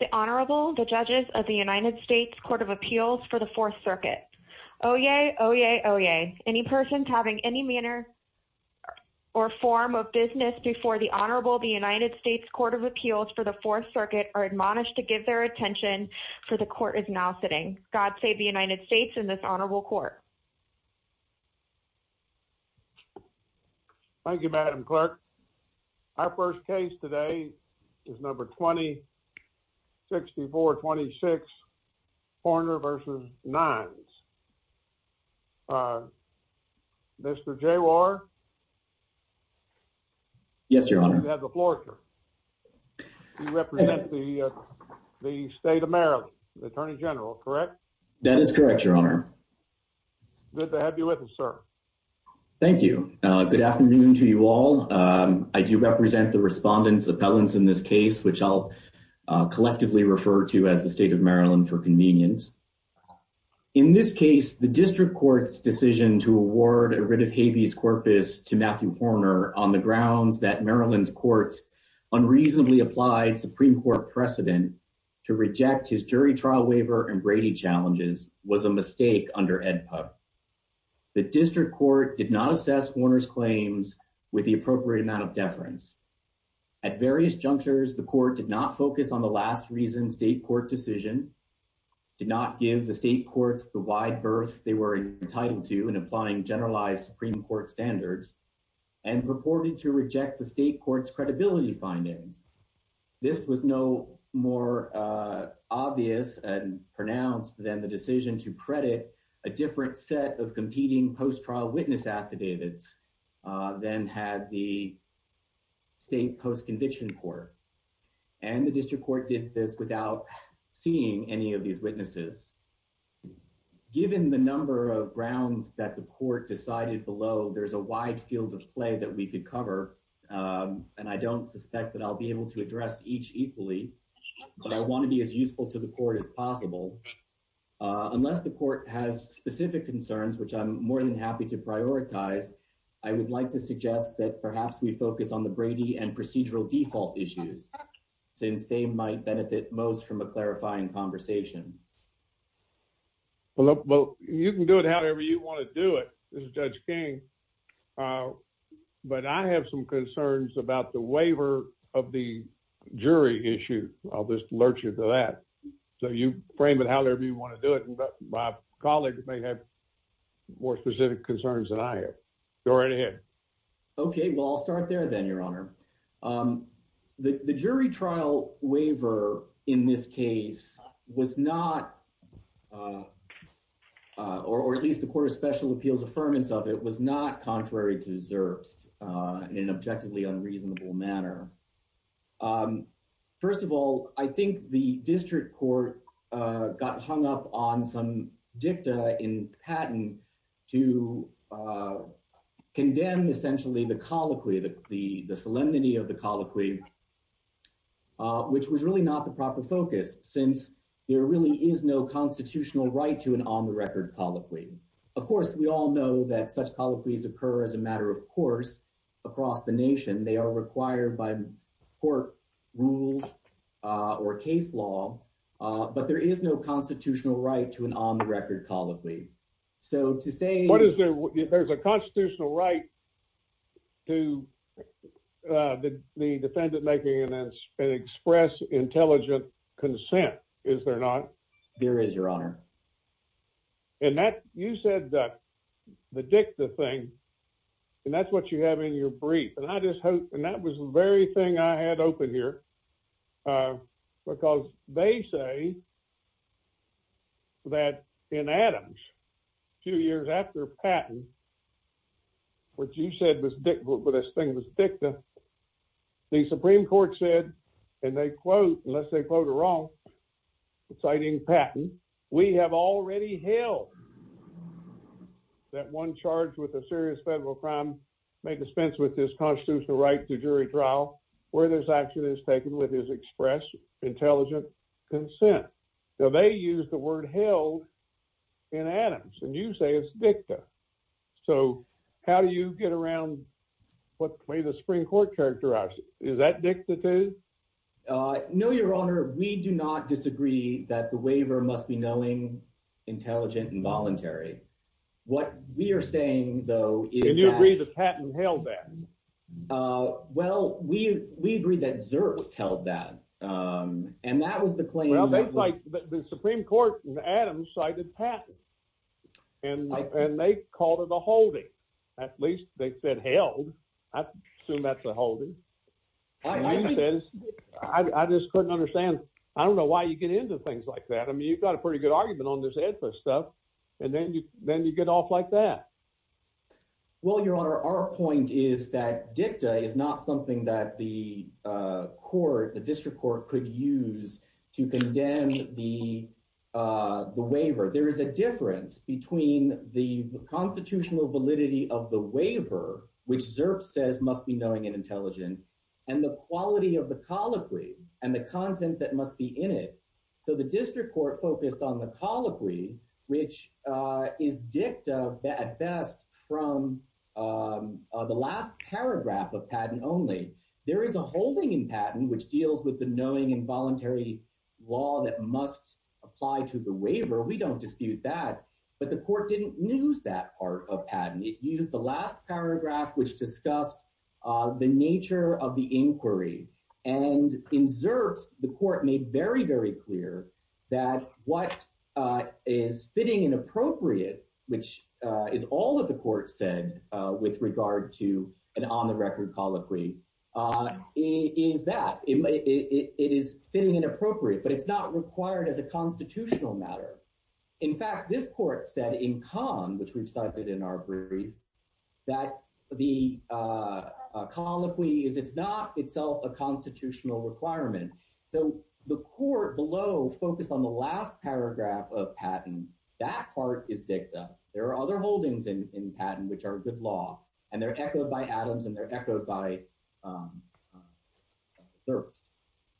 The Honorable, the Judges of the United States Court of Appeals for the Fourth Circuit. Oyez, oyez, oyez. Any persons having any manner or form of business before the Honorable, the United States Court of Appeals for the Fourth Circuit are admonished to give their attention for the Court is now sitting. God save the United States and this Honorable Court. Thank you, Madam Clerk. Our first case today is number 20-6426 Horner v. Nines. Mr. Jawar? Yes, Your Honor. You have the floor, sir. You represent the State of Maryland, Attorney General, correct? That is correct, Your Honor. Good to have you with us, sir. Thank you. Good afternoon to you all. I do represent the Respondents' Appellants in this case, which I'll collectively refer to as the State of Maryland for convenience. In this case, the District Court's decision to award a writ of habeas corpus to Matthew Horner on the grounds that Maryland's courts unreasonably applied Supreme Court precedent to reject his jury trial waiver and Brady challenges was a mistake under AEDPA. The District Court did not assess Horner's claims with the appropriate amount of deference. At various junctures, the Court did not focus on the last reason State Court decision, did not give the State Courts the wide berth they were entitled to in applying generalized Supreme Court standards, and purported to reject the State Court's credibility findings. This was no more obvious and pronounced than the decision to credit a different set of competing post-trial witness affidavits than had the State Post-Conviction Court, and the District Court did this without seeing any of these witnesses. Given the number of grounds that the Court decided below, there's a wide field of play that we could cover, and I don't suspect that I'll be able to address each equally, but I want to be as useful to the Court as possible. Unless the Court has specific concerns, which I'm more than happy to prioritize, I would like to suggest that perhaps we focus on the Brady and procedural default issues, since they might benefit most from a clarifying conversation. Well, you can do it however you want to do it. This is Judge King, uh, but I have some concerns about the waiver of the jury issue. I'll just alert you to that. So you frame it however you want to do it, but my colleague may have more specific concerns than I have. Go right ahead. Okay, well, I'll start there then, Your Honor. Um, the jury trial waiver in this case was not, uh, uh, or at least the Court of Special Appeals' affirmance of it was not contrary to Zerf's, uh, in an objectively unreasonable manner. Um, first of all, I think the District Court, uh, got hung up on some dicta in Patton to, uh, condemn essentially the colloquy, the solemnity of the colloquy, uh, which was really not the proper focus, since there really is no constitutional right to an on-the-record colloquy. Of course, we all know that such colloquies occur as a matter of course across the nation. They are required by court rules, uh, or case law, uh, but there is no constitutional right to an on-the-record colloquy. So to say— What is the—there's a constitutional right to, uh, the defendant making an express intelligent consent, is there not? There is, Your Honor. And that—you said, uh, the dicta thing, and that's what you have in your brief, and I just hope—and that was the very thing I had open here, uh, because they say that in Adams, two years after Patton, what you said was dicta, but this thing was dicta, the Supreme Court said, and they quote, unless they quote it wrong, citing Patton, we have already held that one charged with a serious federal crime may dispense with this constitutional right to jury trial where this action is taken with his express intelligent consent. So they use the word held in Adams, and you say it's dicta. So how do you get around what way the Supreme Court characterized it? Is that dicta, too? Uh, no, Your Honor, we do not disagree that the waiver must be knowing, intelligent, and voluntary. What we are saying, though, is that— And you agree that Patton held that? Uh, well, we—we agree that Zurst held that, um, and that was the claim— The Supreme Court in Adams cited Patton, and they called it a holding. At least, they said held. I assume that's a holding. And he says—I just couldn't understand—I don't know why you get into things like that. I mean, you've got a pretty good argument on this EDFA stuff, and then you—then you get off like that. Well, Your Honor, our point is that dicta is not something that the court, the district court, could use to condemn the waiver. There is a difference between the constitutional validity of the waiver, which Zurst says must be knowing and intelligent, and the quality of the colloquy and the content that must be in it. So the district court focused on the colloquy, which is dicta at best from the last paragraph of Patton only. There is a holding in Patton which deals with the knowing and voluntary law that must apply to the waiver. We don't dispute that. But the court didn't use that part of Patton. It used the last paragraph, which discussed the nature of the inquiry. And in Zurst, the court made very, very clear that what is fitting and appropriate, which is all that the court said with regard to an on-the-record colloquy, is that. It is fitting and appropriate, but it's not required as a constitutional matter. In fact, this court said in Kahn, which we've cited in our brief, that the focused on the last paragraph of Patton. That part is dicta. There are other holdings in Patton which are good law, and they're echoed by Adams, and they're echoed by Zurst.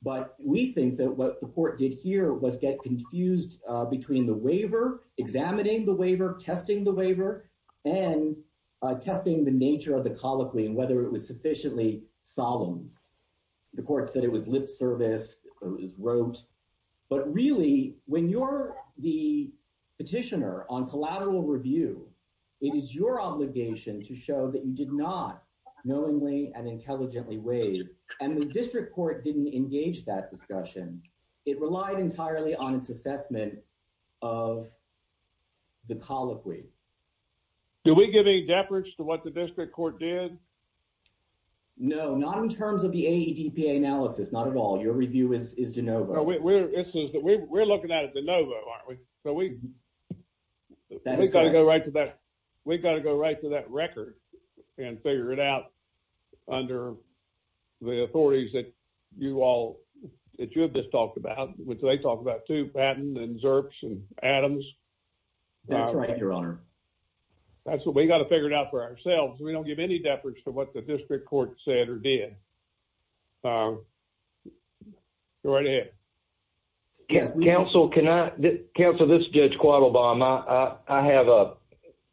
But we think that what the court did here was get confused between the waiver, examining the waiver, testing the waiver, and testing the nature of the colloquy and whether it was sufficiently solemn. The court said it was lip service, it was rote. But really, when you're the petitioner on collateral review, it is your obligation to show that you did not knowingly and intelligently waive. And the district court didn't engage that discussion. It relied entirely on its assessment of the colloquy. Do we give any deference to what the district court did? No, not in terms of the AEDPA analysis, not at all. Your review is DeNovo. No, we're looking at it DeNovo, aren't we? So we've got to go right to that record and figure it out under the authorities that you all, that you have just talked about, which they talk about too, Patton and Zurst and Adams. That's right, Your Honor. That's what we got to figure it out for ourselves. We don't give any deference to what the district court said or did. Go right ahead. Yes, counsel, can I? Counsel, this is Judge Quattlebaum. I have a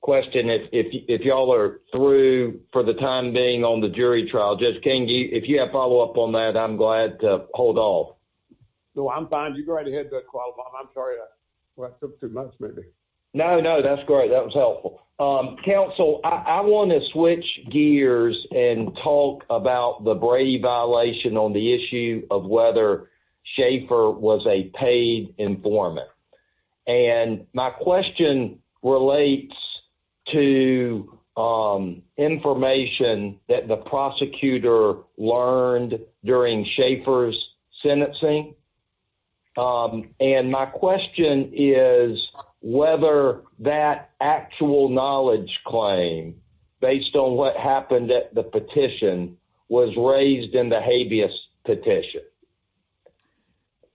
question. If y'all are through for the time being on the jury trial, Judge Kenge, if you have follow up on that, I'm glad to hold off. No, I'm fine. You go right ahead, Judge Quattlebaum. I'm sorry. Well, it took too much, maybe. No, no, that's great. That was helpful. Counsel, I want to switch gears and talk about the Brady violation on the issue of whether Schaefer was a paid informant. And my question relates to information that the prosecutor learned during Schaefer's sentencing. And my question is whether that actual knowledge claim, based on what happened at the petition, was raised in the habeas petition.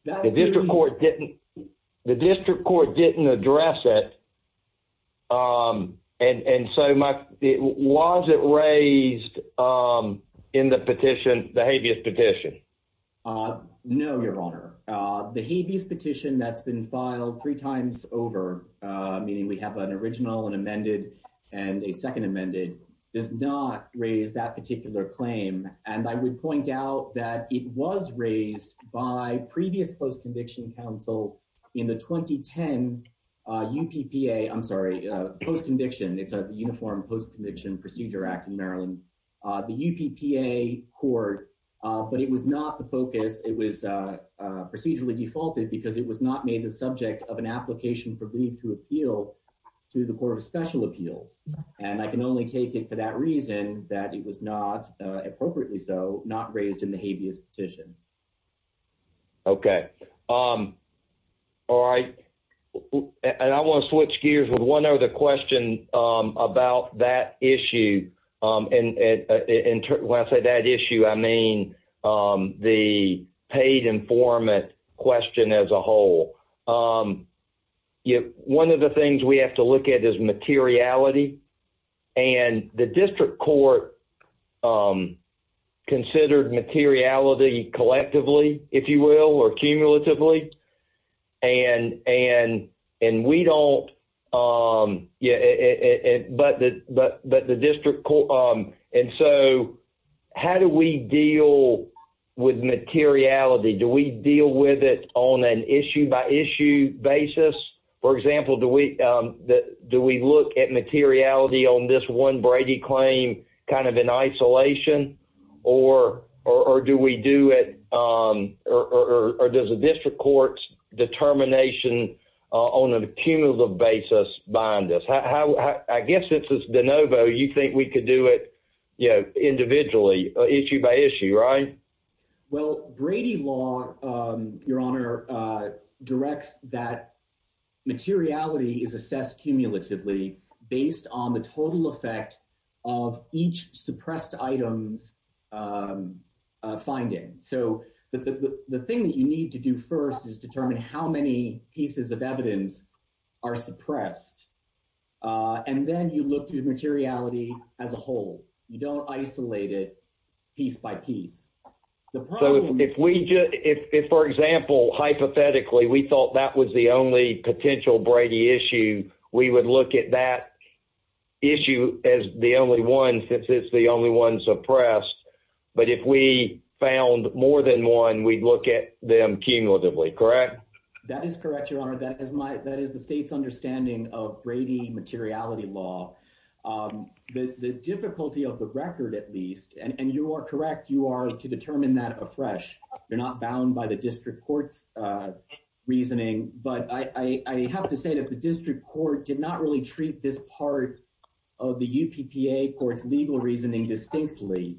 The district court didn't address it. And so was it raised in the petition, the habeas petition? Uh, no, Your Honor. The habeas petition that's been filed three times over, meaning we have an original and amended and a second amended, does not raise that particular claim. And I would point out that it was raised by previous post-conviction counsel in the 2010 UPPA, I'm sorry, post-conviction. It's a uniform post-conviction procedure act in Maryland, the UPPA court. But it was not the focus. It was procedurally defaulted because it was not made the subject of an application for leave to appeal to the Court of Special Appeals. And I can only take it for that reason that it was not, appropriately so, not raised in the habeas petition. Okay. All right. And I want to switch gears with one other question about that issue. And when I say that issue, I mean the paid informant question as a whole. One of the things we have to look at is materiality. And the district court considered materiality collectively, if you will, or cumulatively. And we don't, yeah, but the district court, and so how do we deal with materiality? Do we deal with it on an issue by issue basis? For example, do we look at materiality on this one Brady claim kind of in isolation? Or does the district court's determination on a cumulative basis bind us? I guess it's de novo, you think we could do it individually, issue by issue, right? Well, Brady law, Your Honor, directs that materiality is assessed cumulatively based on the total effect of each suppressed item's finding. So the thing that you need to do first is determine how many pieces of evidence are suppressed. And then you look through materiality as a whole. You don't isolate it piece by piece. So if we just, if, for example, hypothetically, we thought that was the only potential Brady issue, we would look at that issue as the only one since it's the only one suppressed. But if we found more than one, we'd look at them cumulatively, correct? That is correct, Your Honor. That is my, that is the state's understanding of Brady materiality law. The difficulty of the record, at least, and you are correct, you are to determine that afresh. You're not bound by district court's reasoning. But I have to say that the district court did not really treat this part of the UPPA court's legal reasoning distinctly.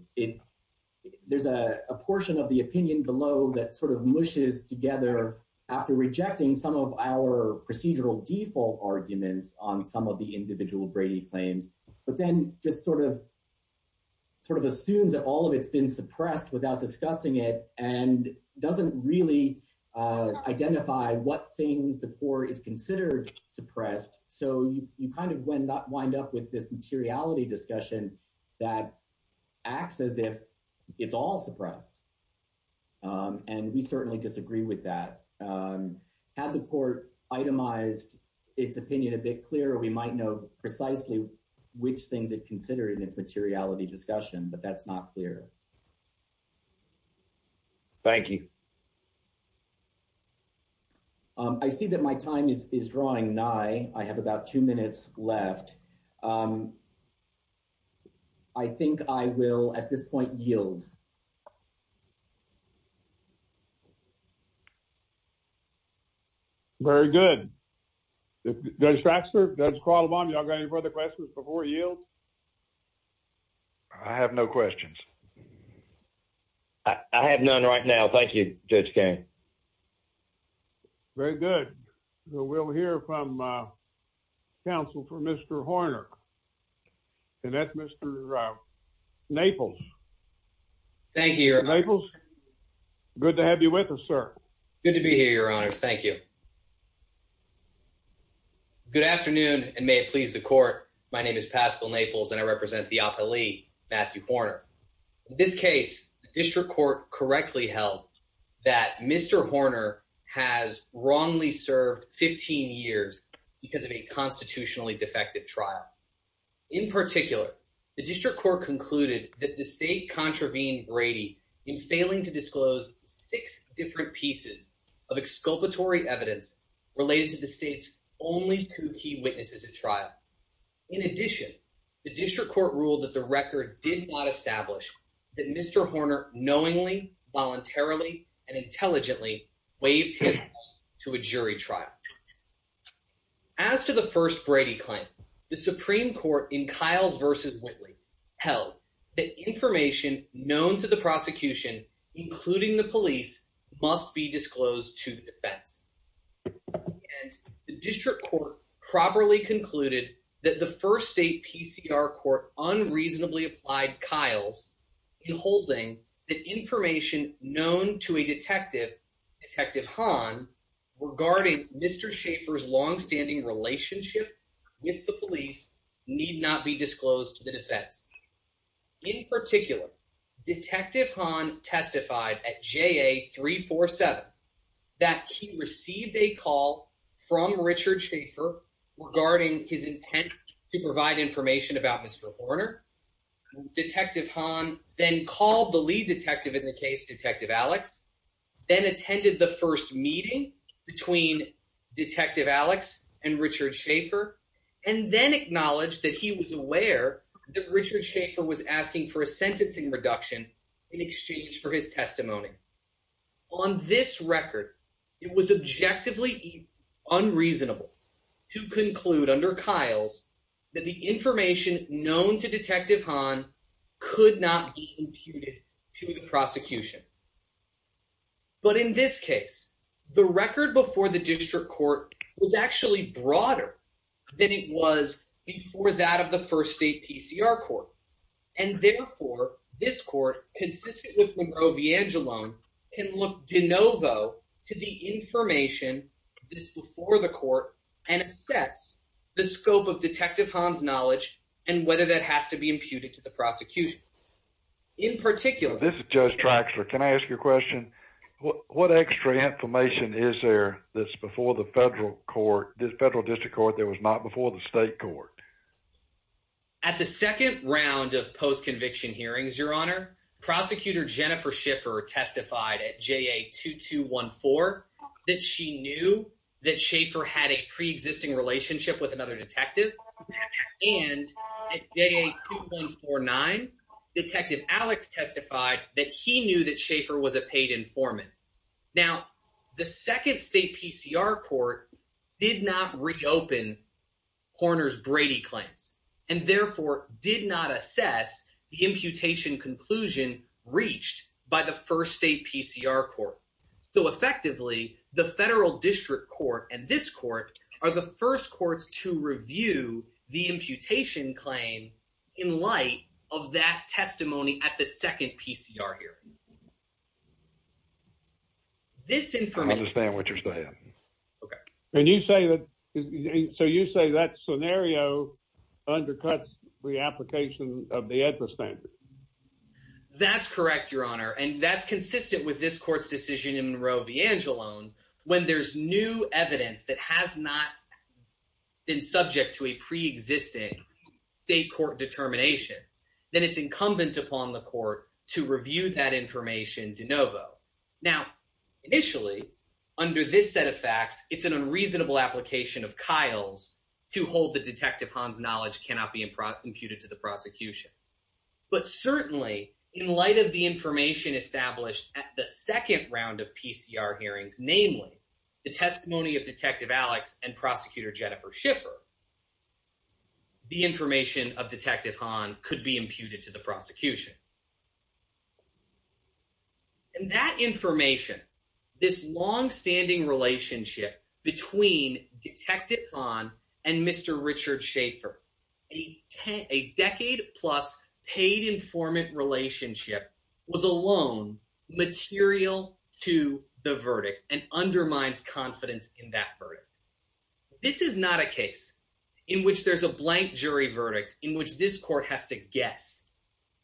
There's a portion of the opinion below that sort of mushes together after rejecting some of our procedural default arguments on some of the individual Brady claims, but then just sort of assumes that all of it's been suppressed without discussing it and doesn't really identify what things the court is considered suppressed. So you kind of wind up with this materiality discussion that acts as if it's all suppressed. And we certainly disagree with that. Had the court itemized its opinion a bit clearer, we might know precisely which things it considered in its materiality discussion, but that's not clear. Thank you. I see that my time is drawing nigh. I have about two minutes left. I think I will, at this point, yield. Very good. Judge Faxter, Judge Qualamon, do you have any further questions before you yield? I have no questions. I have none right now. Thank you, Judge King. Very good. We'll hear from counsel for Mr. Horner. And that's Mr. Naples. Thank you, Your Honor. Naples. Good to have you with us, sir. Good to be here, Your Honors. Thank you. Good afternoon, and may it please the court. My name is Pascal Naples, and I represent the District Court. The District Court correctly held that Mr. Horner has wrongly served 15 years because of a constitutionally defective trial. In particular, the District Court concluded that the state contravened Brady in failing to disclose six different pieces of exculpatory evidence related to the state's only two key witnesses at trial. In addition, the District Court ruled that record did not establish that Mr. Horner knowingly, voluntarily, and intelligently waived his right to a jury trial. As to the first Brady claim, the Supreme Court in Kyles v. Whitley held that information known to the prosecution, including the police, must be disclosed to the Kyles in holding that information known to a detective, Detective Hahn, regarding Mr. Schaffer's longstanding relationship with the police need not be disclosed to the defense. In particular, Detective Hahn testified at JA 347 that he received a call from Richard Schaffer regarding his intent to provide information about Mr. Horner. Detective Hahn then called the lead detective in the case, Detective Alex, then attended the first meeting between Detective Alex and Richard Schaffer, and then acknowledged that he was aware that Richard Schaffer was asking for a sentencing reduction in exchange for his testimony. On this record, it was objectively unreasonable to conclude under Kyles that the information known to Detective Hahn could not be imputed to the prosecution. But in this case, the record before the District Court was actually broader than it was before that of the first state PCR court. And therefore, this court, consistent with Monroe v. Angelone, can look de novo to the information that is before the court and assess the scope of Detective Hahn's knowledge and whether that has to be imputed to the prosecution. In particular, this is Judge Traxler. Can I ask you a question? What extra information is there that's before the federal court, the federal district court, that was not before the prosecutor Jennifer Schaffer testified at JA-2214 that she knew that Schaffer had a pre-existing relationship with another detective? And at JA-2149, Detective Alex testified that he knew that Schaffer was a paid informant. Now, the second state PCR court did not reopen Horner's testimony. They did not assess the imputation conclusion reached by the first state PCR court. So effectively, the federal district court and this court are the first courts to review the imputation claim in light of that testimony at the second PCR hearing. This information... I understand what you're saying. Okay. And you say that... So you say that scenario undercuts the application of the EDSA standard? That's correct, Your Honor. And that's consistent with this court's decision in Roe v. Angelone. When there's new evidence that has not been subject to a pre-existing state court determination, then it's incumbent upon the court to review that information de novo. Now, initially, under this set of facts, it's an unreasonable application of Kyle's to hold that Detective Han's knowledge cannot be imputed to the prosecution. But certainly, in light of the information established at the second round of PCR hearings, namely the testimony of Detective Alex and Prosecutor Jennifer Schaffer, the information of Detective Han could be imputed to the prosecution. And that information, this longstanding relationship between Detective Han and Mr. Richard Schaffer, a decade-plus paid informant relationship was alone material to the verdict and undermines confidence in that verdict. This is not a case in which there's a blank jury verdict in which this court has to guess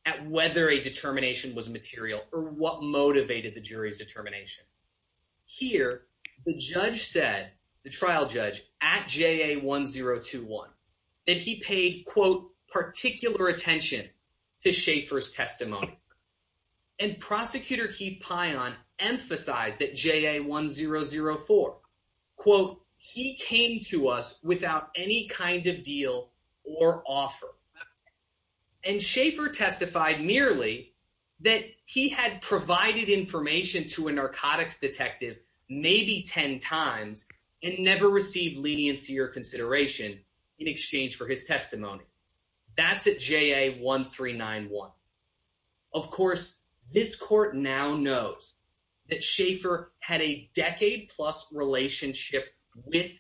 at whether a determination was material or what motivated the jury's determination. Here, the judge said, the trial judge at JA-1021, that he paid, quote, particular attention to Schaffer's testimony. And Prosecutor Keith Pion emphasized that JA-1004, quote, he came to us without any kind of deal or offer. And Schaffer testified merely that he had provided information to a narcotics detective maybe 10 times and never received leniency or consideration in exchange for his testimony. That's at JA-1391. Of course, this court now knows that Schaffer had a decade-plus relationship with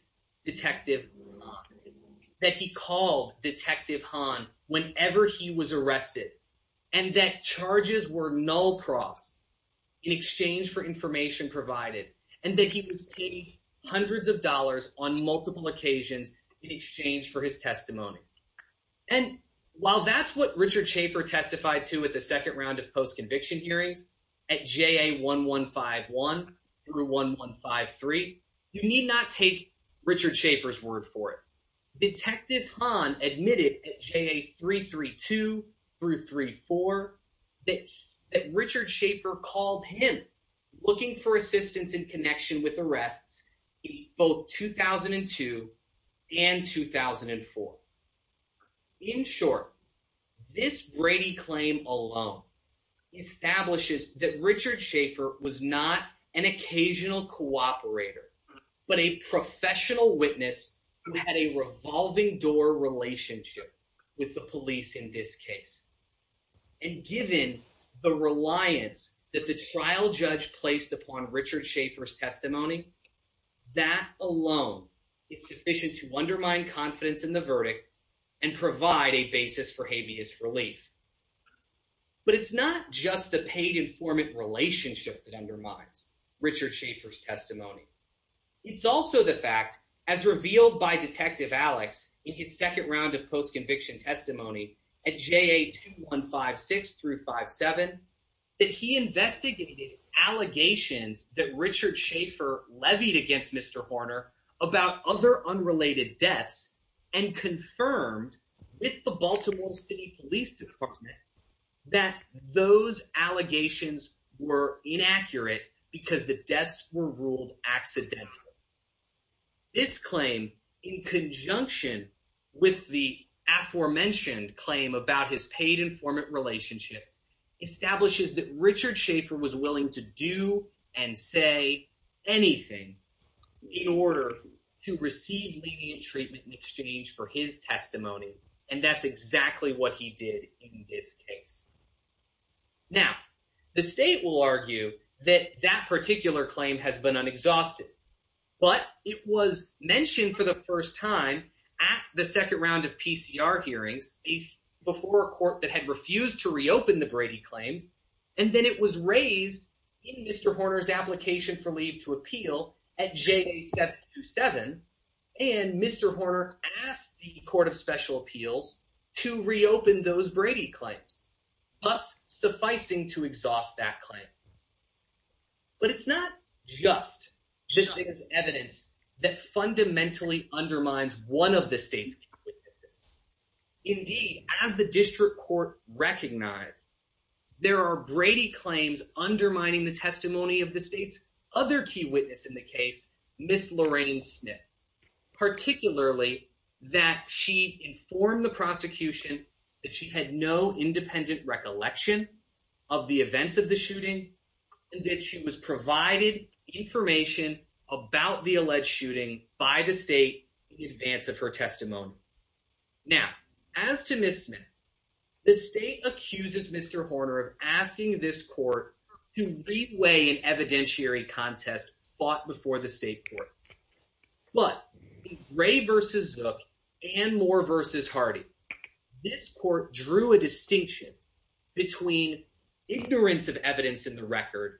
Detective Han, that he called Detective Han whenever he was arrested, and that charges were null-crossed in exchange for information provided, and that he was paid hundreds of dollars on multiple occasions in exchange for his testimony. And while that's what Richard Schaffer testified to at the second hearings, at JA-1151 through 1153, you need not take Richard Schaffer's word for it. Detective Han admitted at JA-332 through 34 that Richard Schaffer called him looking for assistance that Richard Schaffer was not an occasional cooperator, but a professional witness who had a revolving-door relationship with the police in this case. And given the reliance that the trial judge placed upon Richard Schaffer's testimony, that alone is sufficient to undermine confidence in the verdict and provide a basis for habeas relief. But it's not just the paid-informant relationship that undermines Richard Schaffer's testimony. It's also the fact, as revealed by Detective Alex in his second round of post-conviction testimony at JA-2156 through 57, that he investigated allegations that Richard Schaffer levied against Mr. Horner about other related deaths and confirmed with the Baltimore City Police Department that those allegations were inaccurate because the deaths were ruled accidental. This claim, in conjunction with the aforementioned claim about his paid-informant relationship, establishes that Richard Schaffer was willing to do and say anything in order to receive lenient treatment in exchange for his testimony. And that's exactly what he did in this case. Now, the state will argue that that particular claim has been unexhausted. But it was mentioned for the first time at the second round of PCR hearings before a court that had refused to reopen the Brady claims. And then it was raised in Mr. Horner's application for leave to appeal at JA-727. And Mr. Horner asked the Court of Special Appeals to reopen those Brady claims, thus sufficing to exhaust that claim. But it's not just the evidence that fundamentally undermines one of the state's key witnesses. Indeed, as the district court recognized, there are Brady claims undermining the testimony of the state's other key witness in the case, Ms. Lorraine Smith, particularly that she informed the prosecution that she had no independent recollection of the events of the about the alleged shooting by the state in advance of her testimony. Now, as to Ms. Smith, the state accuses Mr. Horner of asking this court to reweigh an evidentiary contest fought before the state court. But in Gray v. Zook and Moore v. Hardy, this court drew a distinction between ignorance of evidence in the record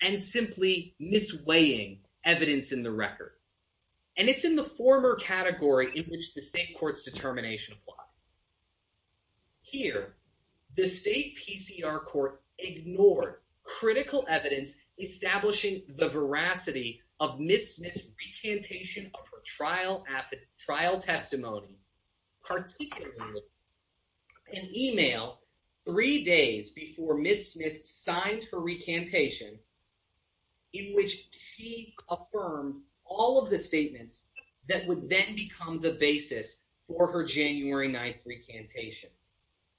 and simply misweighing evidence in the record. And it's in the former category in which the state court's determination applies. Here, the state PCR court ignored critical evidence establishing the veracity of Ms. Smith's three days before Ms. Smith signed her recantation in which she affirmed all of the statements that would then become the basis for her January 9th recantation.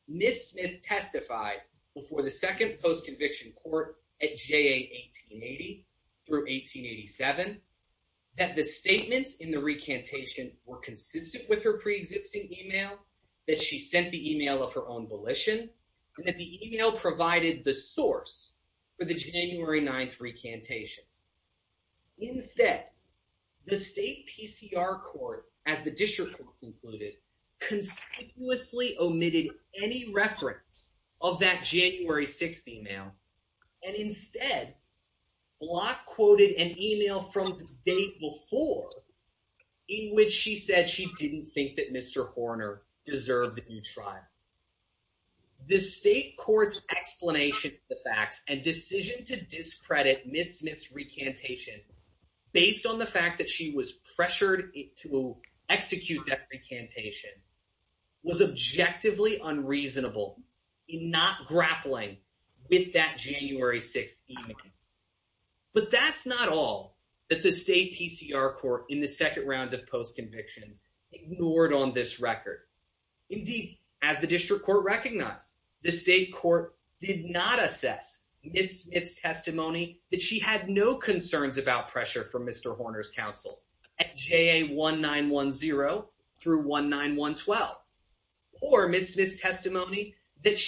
Ms. Smith testified before the second post-conviction court at JA 1880 through 1887 that the statements in the recantation were consistent with her preexisting email, that she sent the email of her own abolition, and that the email provided the source for the January 9th recantation. Instead, the state PCR court, as the district concluded, conspicuously omitted any reference of that January 6th email. And instead, Block quoted an email from the day before in which she said she didn't think that Mr. Horner deserved to be tried. The state court's explanation of the facts and decision to discredit Ms. Smith's recantation based on the fact that she was pressured to execute that recantation was objectively unreasonable in not grappling with that January 6th email. But that's not all that the state PCR court in the second round of post-convictions ignored on this record. Indeed, as the district court recognized, the state court did not assess Ms. Smith's testimony that she had no concerns about pressure from Mr. Horner's counsel at JA 1910 through 1912, or Ms. Smith's testimony that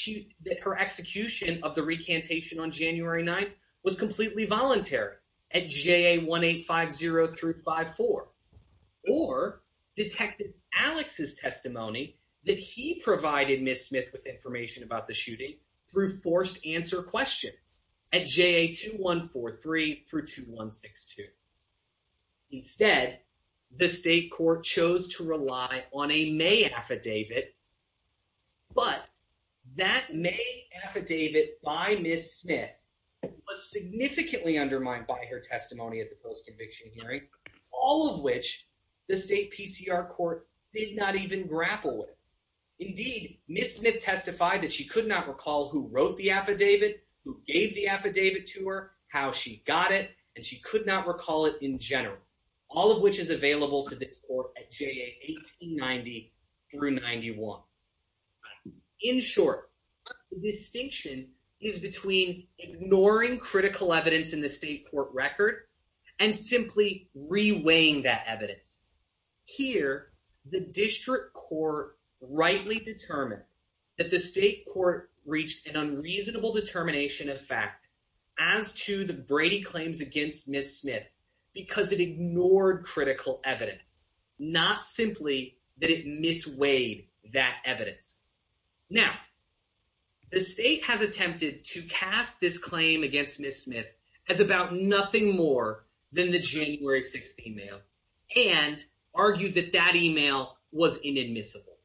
her execution of the recantation on January 9th was completely voluntary at JA 1850 through 54, or Detective Alex's testimony that he provided Ms. Smith with information about the shooting through forced answer questions at JA 2143 through 2162. Instead, the state court chose to rely on a May affidavit, but that May affidavit by Ms. Smith was significantly undermined by her testimony at the post-conviction hearing, all of which the state PCR court did not even grapple with. Indeed, Ms. Smith testified that she could not recall who wrote the affidavit, who gave the affidavit to her, how she got it, and she could not recall it in general, all of which is available to this court at JA 1890 through 91. In short, the distinction is between ignoring critical evidence in the state court record and simply reweighing that evidence. Here, the district court rightly determined that the state court reached an unreasonable determination of fact as to the Brady claims against Ms. Smith because it ignored critical evidence, not simply that it misweighed that evidence. Now, the state has attempted to cast this claim against Ms. Smith as about nothing more than the January 16th mail and argued that that email was inadmissible.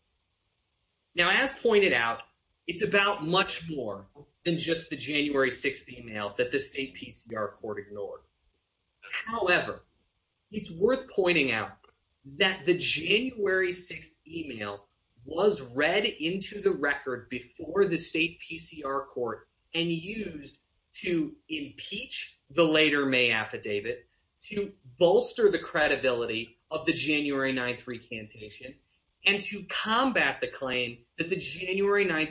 Now, as pointed out, it's about much more than just the January 16th email that the state PCR court ignored. However, it's worth pointing out that the January 16th email was read into the record before the state PCR court and used to impeach the later May affidavit, to bolster the claim that the January 9th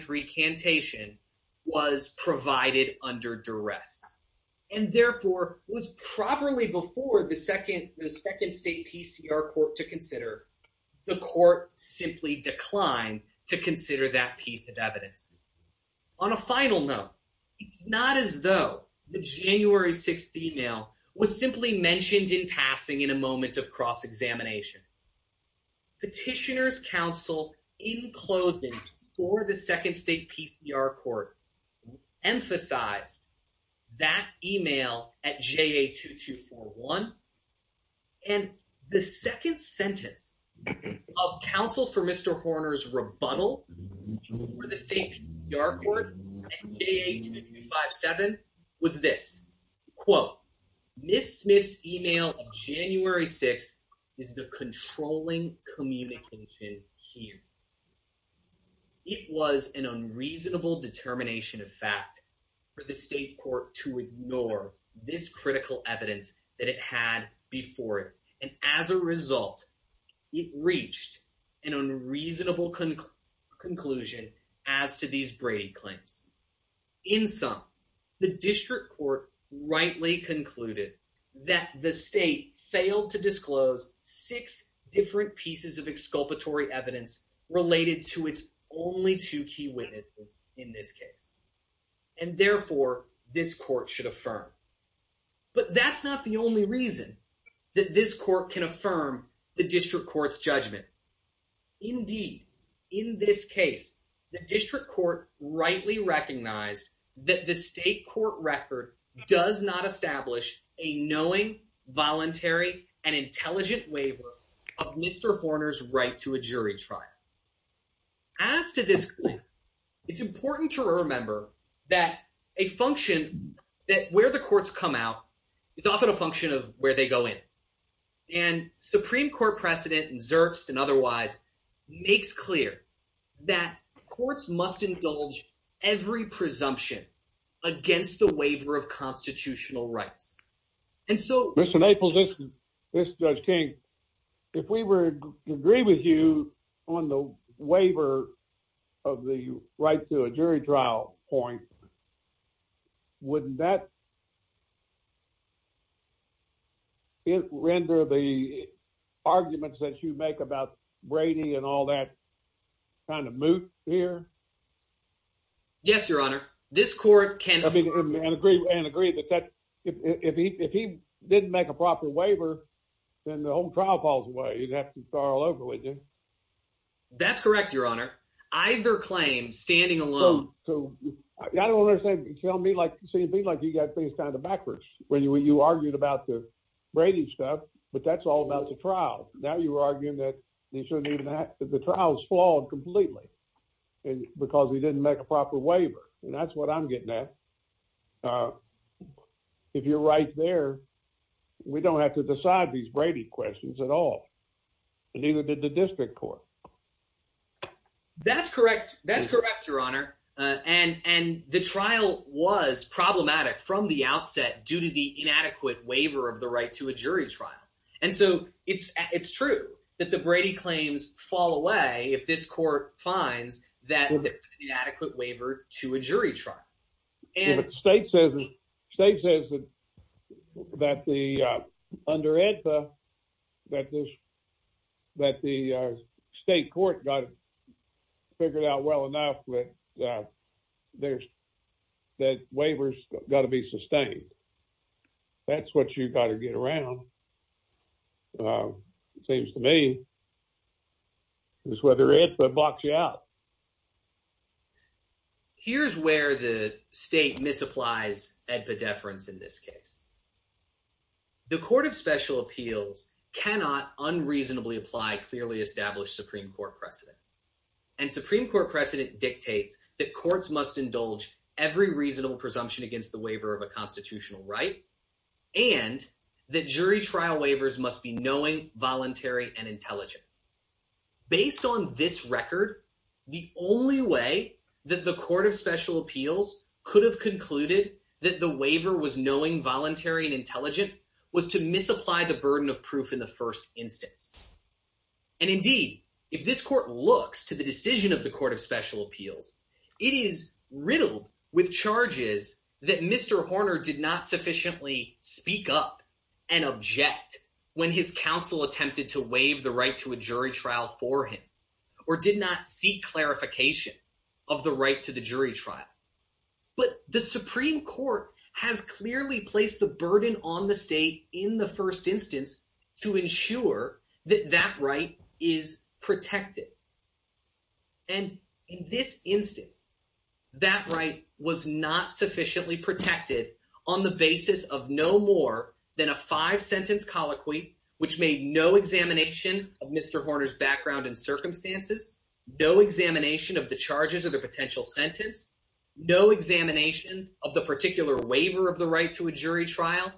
recantation was provided under duress, and therefore was properly before the second state PCR court to consider. The court simply declined to consider that piece of evidence. On a final note, it's not as though the January 16th email was simply mentioned in passing in a moment of cross-examination. Petitioner's counsel in closing for the second state PCR court emphasized that email at JA-2241, and the second sentence of counsel for Mr. Horner's rebuttal for the state PR court at JA-2257 was this, quote, Ms. Smith's email of January 6th is the controlling communication here. It was an unreasonable determination of fact for the state court to ignore this critical evidence that it had before it. And as a result, it reached an unreasonable conclusion as to these Brady claims. In sum, the district court rightly concluded that the state failed to disclose six different pieces of exculpatory evidence related to its only two key witnesses in this case. And therefore, this court should affirm. But that's not the only reason that this court can recognize that the state court record does not establish a knowing, voluntary, and intelligent waiver of Mr. Horner's right to a jury trial. As to this, it's important to remember that a function that where the courts come out is often a function of where they go in. And Supreme Court precedent and Zerks and otherwise makes clear that courts must indulge every presumption against the waiver of constitutional rights. And so- Mr. Naples, this is Judge King. If we were to agree with you on the waiver of the right to make a proper waiver, then the whole trial falls away. You'd have to start all over with you. That's correct, Your Honor. Either claim, standing alone- I don't understand. You're telling me like you got things kind of backwards when you argued about the trial. Now you're arguing that the trial is flawed completely because we didn't make a proper waiver. And that's what I'm getting at. If you're right there, we don't have to decide these Brady questions at all. And neither did the district court. That's correct. That's correct, Your Honor. And the trial was problematic from the outset due to the inadequate waiver of the right to a jury trial. And so it's true that the Brady claims fall away if this court finds that inadequate waiver to a jury trial. If a state says that under EDPA, that the state court got it figured out well enough that the waiver's got to be sustained, that's what you've got to get around. It seems to me, it's whether EDPA blocks you out. Here's where the state misapplies EDPA deference in this case. The Court of Special Appeals cannot unreasonably apply clearly established Supreme Court precedent. And Supreme Court precedent dictates that courts must indulge every reasonable presumption against the waiver of a constitutional right and that jury trial waivers must be knowing, voluntary, and intelligent. Based on this record, the only way that the Court of Special Appeals could have concluded that the waiver was knowing, voluntary, and intelligent was to misapply the burden of proof in the first instance. And indeed, if this court looks to the decision of the Court of Special Appeals, it is riddled with charges that Mr. Horner did not sufficiently speak up and object when his counsel attempted to waive the right to a jury trial for him or did not seek clarification of the right to the jury trial. But the Supreme Court has clearly placed the burden on the state in the first instance to ensure that that right is protected. And in this instance, that right was not sufficiently protected on the basis of no more than a five-sentence colloquy, which made no examination of Mr. Horner's background and circumstances, no examination of the charges of the potential sentence, no examination of the particular waiver of the right to a jury trial,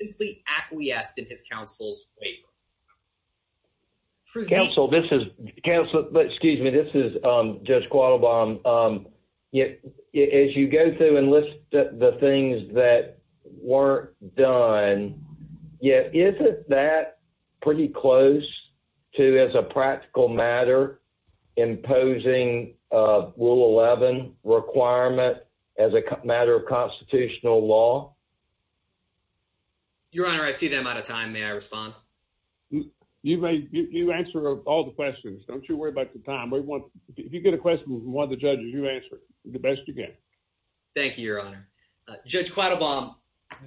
simply acquiesced in his counsel's waiver. Counsel, this is Judge Quattlebaum. As you go through and list the things that weren't done, yet isn't that pretty close to, as a practical matter, imposing Rule 11 requirement as a matter of constitutional law? Your Honor, I see them out of time. May I respond? You may. You answer all the questions. Don't you worry about the time. If you get a question from one of the judges, you answer it the best you can. Thank you, Your Honor. Judge Quattlebaum,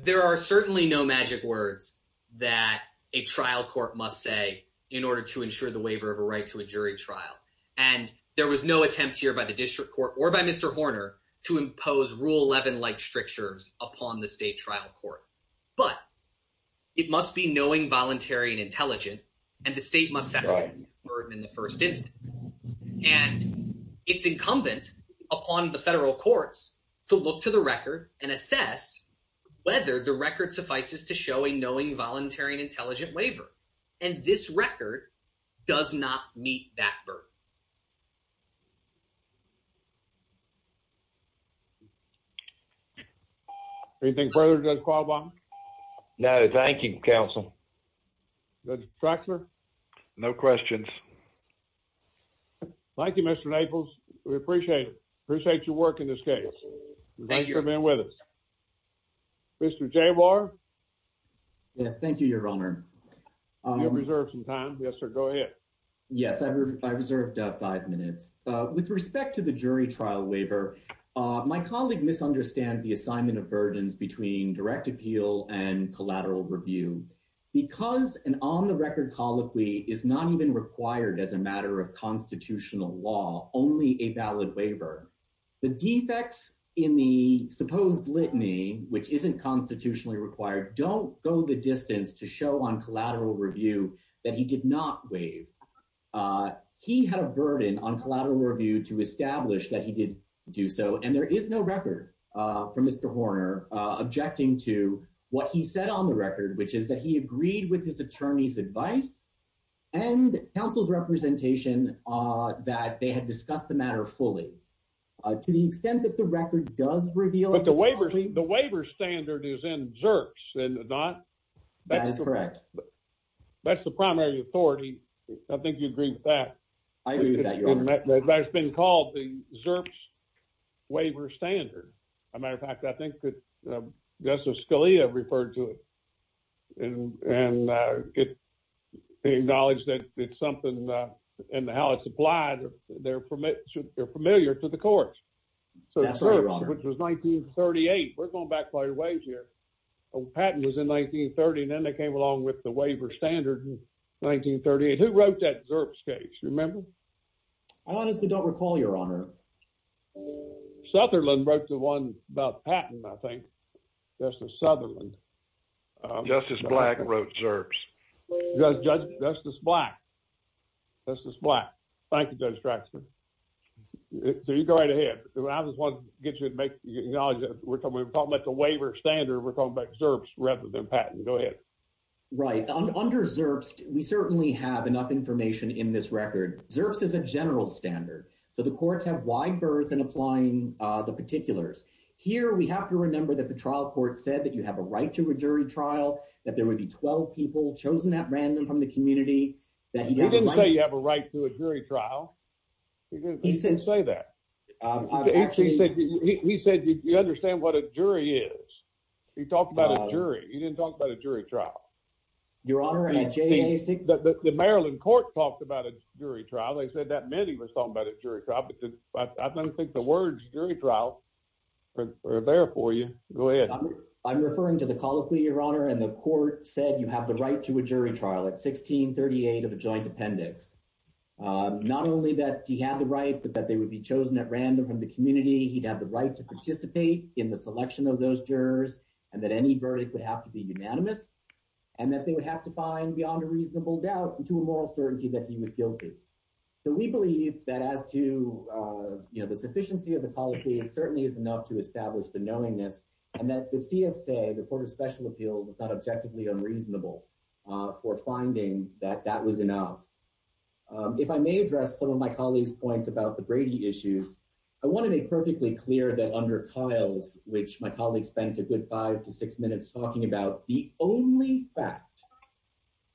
there are certainly no magic words that a trial court must say in order to ensure the waiver of a right to a jury trial. And there was no attempt here by the district court or by Mr. Horner to impose Rule 11-like strictures upon the state trial court. But it must be knowing, voluntary, and intelligent, and the state must set the burden in the first instance. And it's incumbent upon the federal courts to look to the record and assess whether the record suffices to show a knowing, voluntary, and intelligent waiver. And this record does not meet that burden. Anything further, Judge Quattlebaum? No, thank you, counsel. Judge Traxler? No questions. Thank you, Mr. Naples. We appreciate it. Appreciate your work in this case. Thank you for being with us. Mr. Jabar? Yes, thank you, Your Honor. You have reserved some time. Yes, sir, go ahead. Yes, I reserved five minutes. With respect to the jury trial waiver, my colleague misunderstands the assignment of burdens between direct appeal and collateral review. Because an on-the-record colloquy is not even required as a matter of constitutional law, only a valid waiver. The defects in the supposed litany, which isn't constitutionally required, don't go the distance to show on collateral review that he did not waive. He had a burden on collateral review to establish that he did do so. And there is no record from Mr. Horner objecting to what he said on the record, which is that he agreed with his attorney's advice and counsel's representation that they had discussed the matter fully. To the extent that the record does reveal- But the waiver standard is in Zerps, and not- That is correct. That's the primary authority. I think you agree with that. I agree with that, Your Honor. That's been called the Zerps waiver standard. As a matter of fact, I think that Justice Scalia referred to it and acknowledged that it's something and how it's applied, they're familiar to the courts. That's right, Your Honor. Which was 1938. We're going back quite a ways here. Patent was in 1930, and then they came along with the waiver standard in 1938. Who wrote that Zerps case? Do you remember? I honestly don't recall, Your Honor. Sutherland wrote the one about patent, I think. Justice Sutherland. Justice Black wrote Zerps. Justice Black. Justice Black. Thank you, Judge Braxton. So you go right ahead. I just wanted to get you to acknowledge that we're talking about the waiver standard. We're talking about Zerps rather than patent. Go ahead. Right. Under Zerps, we certainly have enough information in this record. Zerps is a general standard. So the courts have wide berth in applying the particulars. Here, we have to remember that the trial court said that you have a right to a jury trial, that there would be 12 people chosen at random from the community. He didn't say you have a right to a jury trial. He didn't say that. He said you understand what a jury is. He talked about a jury. He didn't talk about a jury trial. Your Honor, I think- The Maryland court talked about a jury trial. They admitted he was talking about a jury trial, but I don't think the words jury trial were there for you. Go ahead. I'm referring to the colloquy, Your Honor, and the court said you have the right to a jury trial at 1638 of a joint appendix. Not only that he had the right, but that they would be chosen at random from the community. He'd have the right to participate in the selection of those jurors, and that any verdict would have to be unanimous, and that they would have to find a reasonable doubt and to a moral certainty that he was guilty. We believe that as to the sufficiency of the colloquy, it certainly is enough to establish the knowingness, and that the CSA, the Court of Special Appeals, is not objectively unreasonable for finding that that was enough. If I may address some of my colleague's points about the Brady issues, I want to make perfectly clear that under Kyle's, which my colleague spent a good five to six minutes talking about, the only fact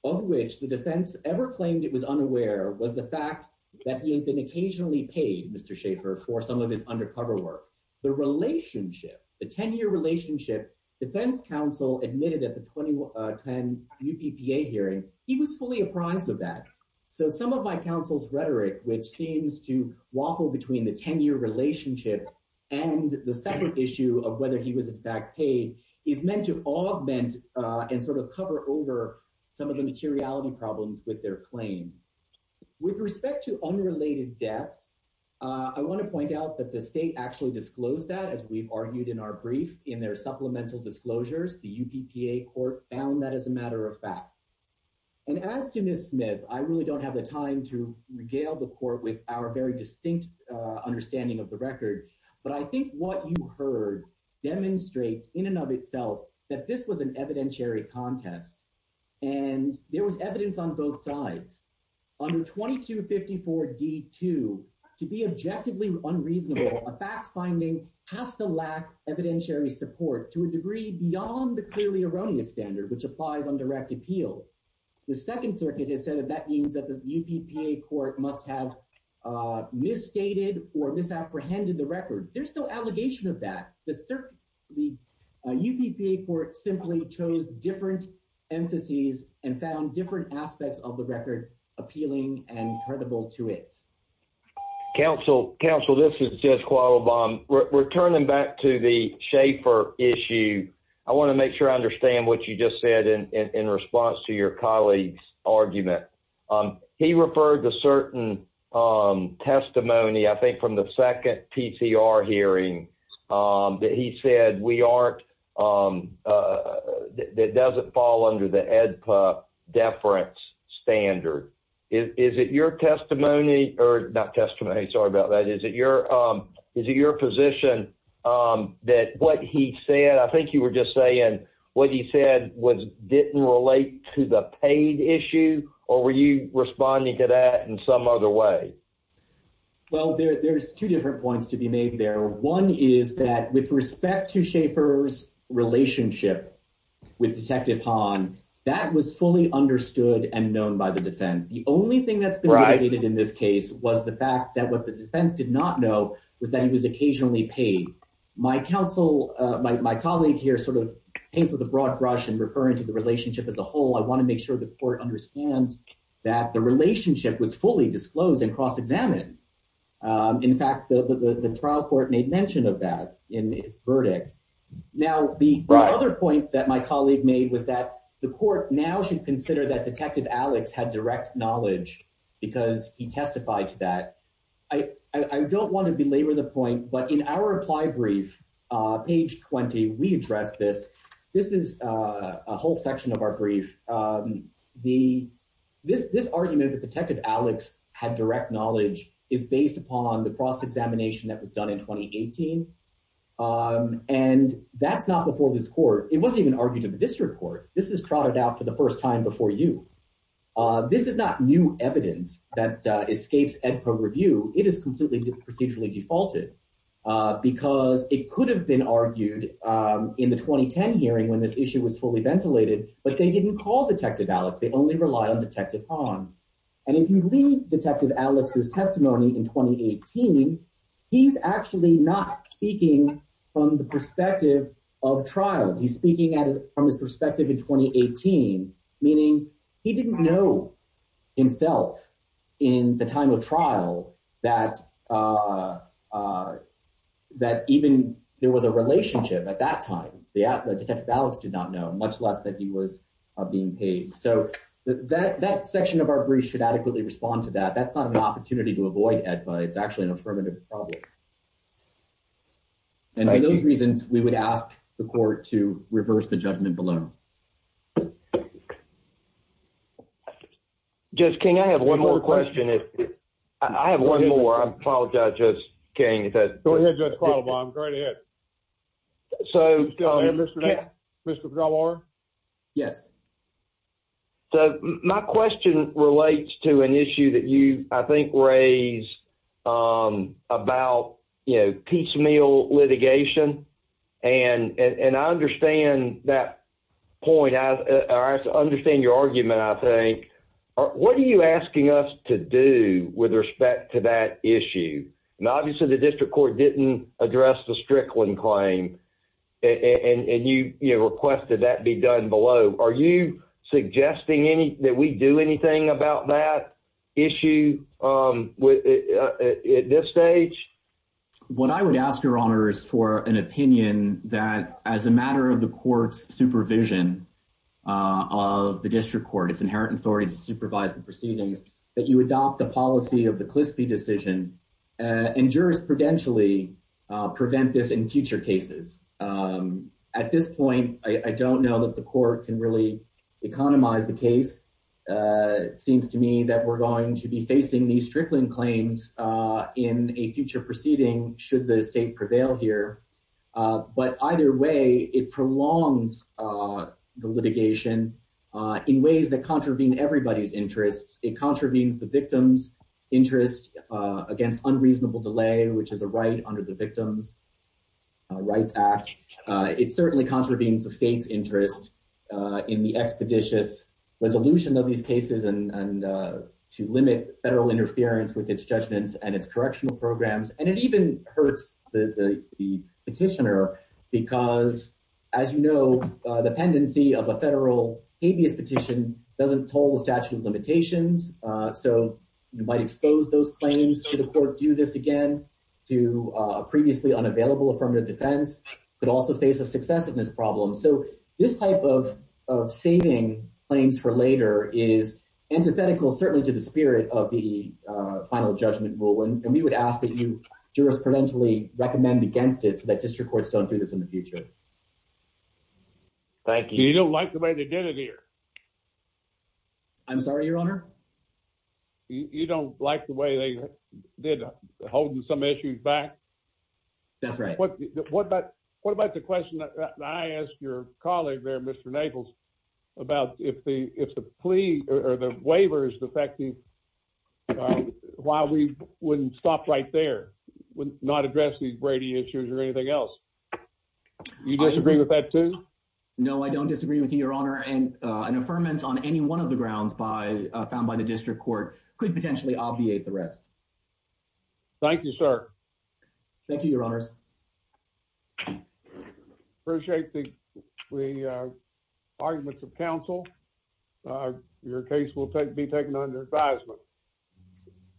of which the defense ever claimed it was unaware was the fact that he had been occasionally paid, Mr. Schaffer, for some of his undercover work. The relationship, the 10-year relationship, defense counsel admitted at the 2010 UPPA hearing, he was fully apprised of that. So some of my counsel's rhetoric, which seems to waffle between the 10-year relationship and the separate issue of whether he was in fact paid, is meant to augment and sort of cover over some of the materiality problems with their claim. With respect to unrelated deaths, I want to point out that the state actually disclosed that, as we've argued in our brief, in their supplemental disclosures. The UPPA Court found that as a matter of fact. And as to Ms. Smith, I really don't have the time to regale the court with our very distinct understanding of the record. But I think what you heard demonstrates in and of itself that this was an evidentiary contest. And there was evidence on both sides. Under 2254 D2, to be objectively unreasonable, a fact-finding has to lack evidentiary support to a degree beyond the clearly erroneous standard, which applies on direct appeal. The Second Circuit has said that that means that the UPPA Court must have misstated or misapprehended the record. There's no allegation of that. The UPPA Court simply chose different emphases and found different aspects of the record appealing and credible to it. Counsel, this is Judge Qualabong. Returning back to the Schaefer issue, I want to make sure I said in response to your colleague's argument. He referred to certain testimony, I think, from the second TCR hearing that he said we aren't, that it doesn't fall under the EDPA deference standard. Is it your testimony, or not testimony, sorry about that, is it your position that what he said, I think you were just saying, what he said didn't relate to the paid issue, or were you responding to that in some other way? Well, there's two different points to be made there. One is that with respect to Schaefer's relationship with Detective Hahn, that was fully understood and known by the defense. The only thing that's been negated in this case was the defense did not know was that he was occasionally paid. My colleague here paints with a broad brush in referring to the relationship as a whole. I want to make sure the court understands that the relationship was fully disclosed and cross-examined. In fact, the trial court made mention of that in its verdict. Now, the other point that my colleague made was that the court now should consider that Detective Alex had direct knowledge because he testified to that. I don't want to belabor the point, but in our reply brief, page 20, we address this. This is a whole section of our brief. This argument that Detective Alex had direct knowledge is based upon the cross-examination that was done in 2018, and that's not before this court. It wasn't even argued to the district court. This is trotted out for the first time before you. This is not new evidence that escapes Edpo review. It is completely procedurally defaulted because it could have been argued in the 2010 hearing when this issue was fully ventilated, but they didn't call Detective Alex. They only rely on Detective Hahn. If you read Detective Alex's testimony in 2018, he's actually not speaking from the perspective of trial. He's speaking from his perspective in 2018, meaning he didn't know himself in the time of trial that even there was a relationship at that time. Detective Alex did not know, much less that he was being paid. That section of our brief should adequately respond to that. That's not an opportunity to avoid Edpo. It's actually an affirmative problem. For those reasons, we would ask the court to reverse the judgment below. Judge King, I have one more question. I have one more. I apologize, Judge King. Go ahead, Judge Quattlebaum. Go right ahead. So, my question relates to an issue that you, I think, raised about piecemeal litigation, and I understand that point. I understand your argument, I think. What are you asking us to do with respect to that issue? Obviously, the district court didn't address the Strickland claim, and you requested that be done below. Are you suggesting that we do anything about that issue at this stage? What I would ask, Your Honor, is for an opinion that as a matter of the court's supervision of the district court, its inherent authority to supervise the proceedings, that you adopt the policy of the Clisby decision and jurisprudentially prevent this in future cases. At this point, I don't know that the court can really economize the case. It seems to me that we're going to be facing these Strickland claims in a future proceeding should the state prevail here. But either way, it prolongs the litigation in ways that contravene everybody's interests. It contravenes the victim's interest against unreasonable delay, which is a right under the Victims' Rights Act. It certainly contravenes the state's interest in the expeditious resolution of these cases and to limit federal interference with its judgments and its correctional programs. And it even hurts the petitioner because, as you know, the pendency of a federal habeas petition doesn't toll the statute of limitations. So you might expose those claims. Should the court do this again to a previously unavailable affirmative defense? Could also face a successiveness problem. So this type of saving claims for later is antithetical certainly to the spirit of the final judgment rule. And we would ask that you jurisprudentially recommend against it so that district courts don't do this in the future. Thank you. You don't like the way they did it here. I'm sorry, Your Honor. You don't like the way they did holding some issues back? That's right. What about the question that I asked your colleague there, Mr. Naples, about if the plea or the waiver is defective, why we wouldn't stop right there, not address these Brady issues or anything else? You disagree with that, too? No, I don't disagree with you, Your Honor. And an affirmance on any one of the grounds found by the district court could potentially obviate the rest. Thank you, sir. Thank you, Your Honors. Appreciate the arguments of counsel. Your case will be taken under advisement.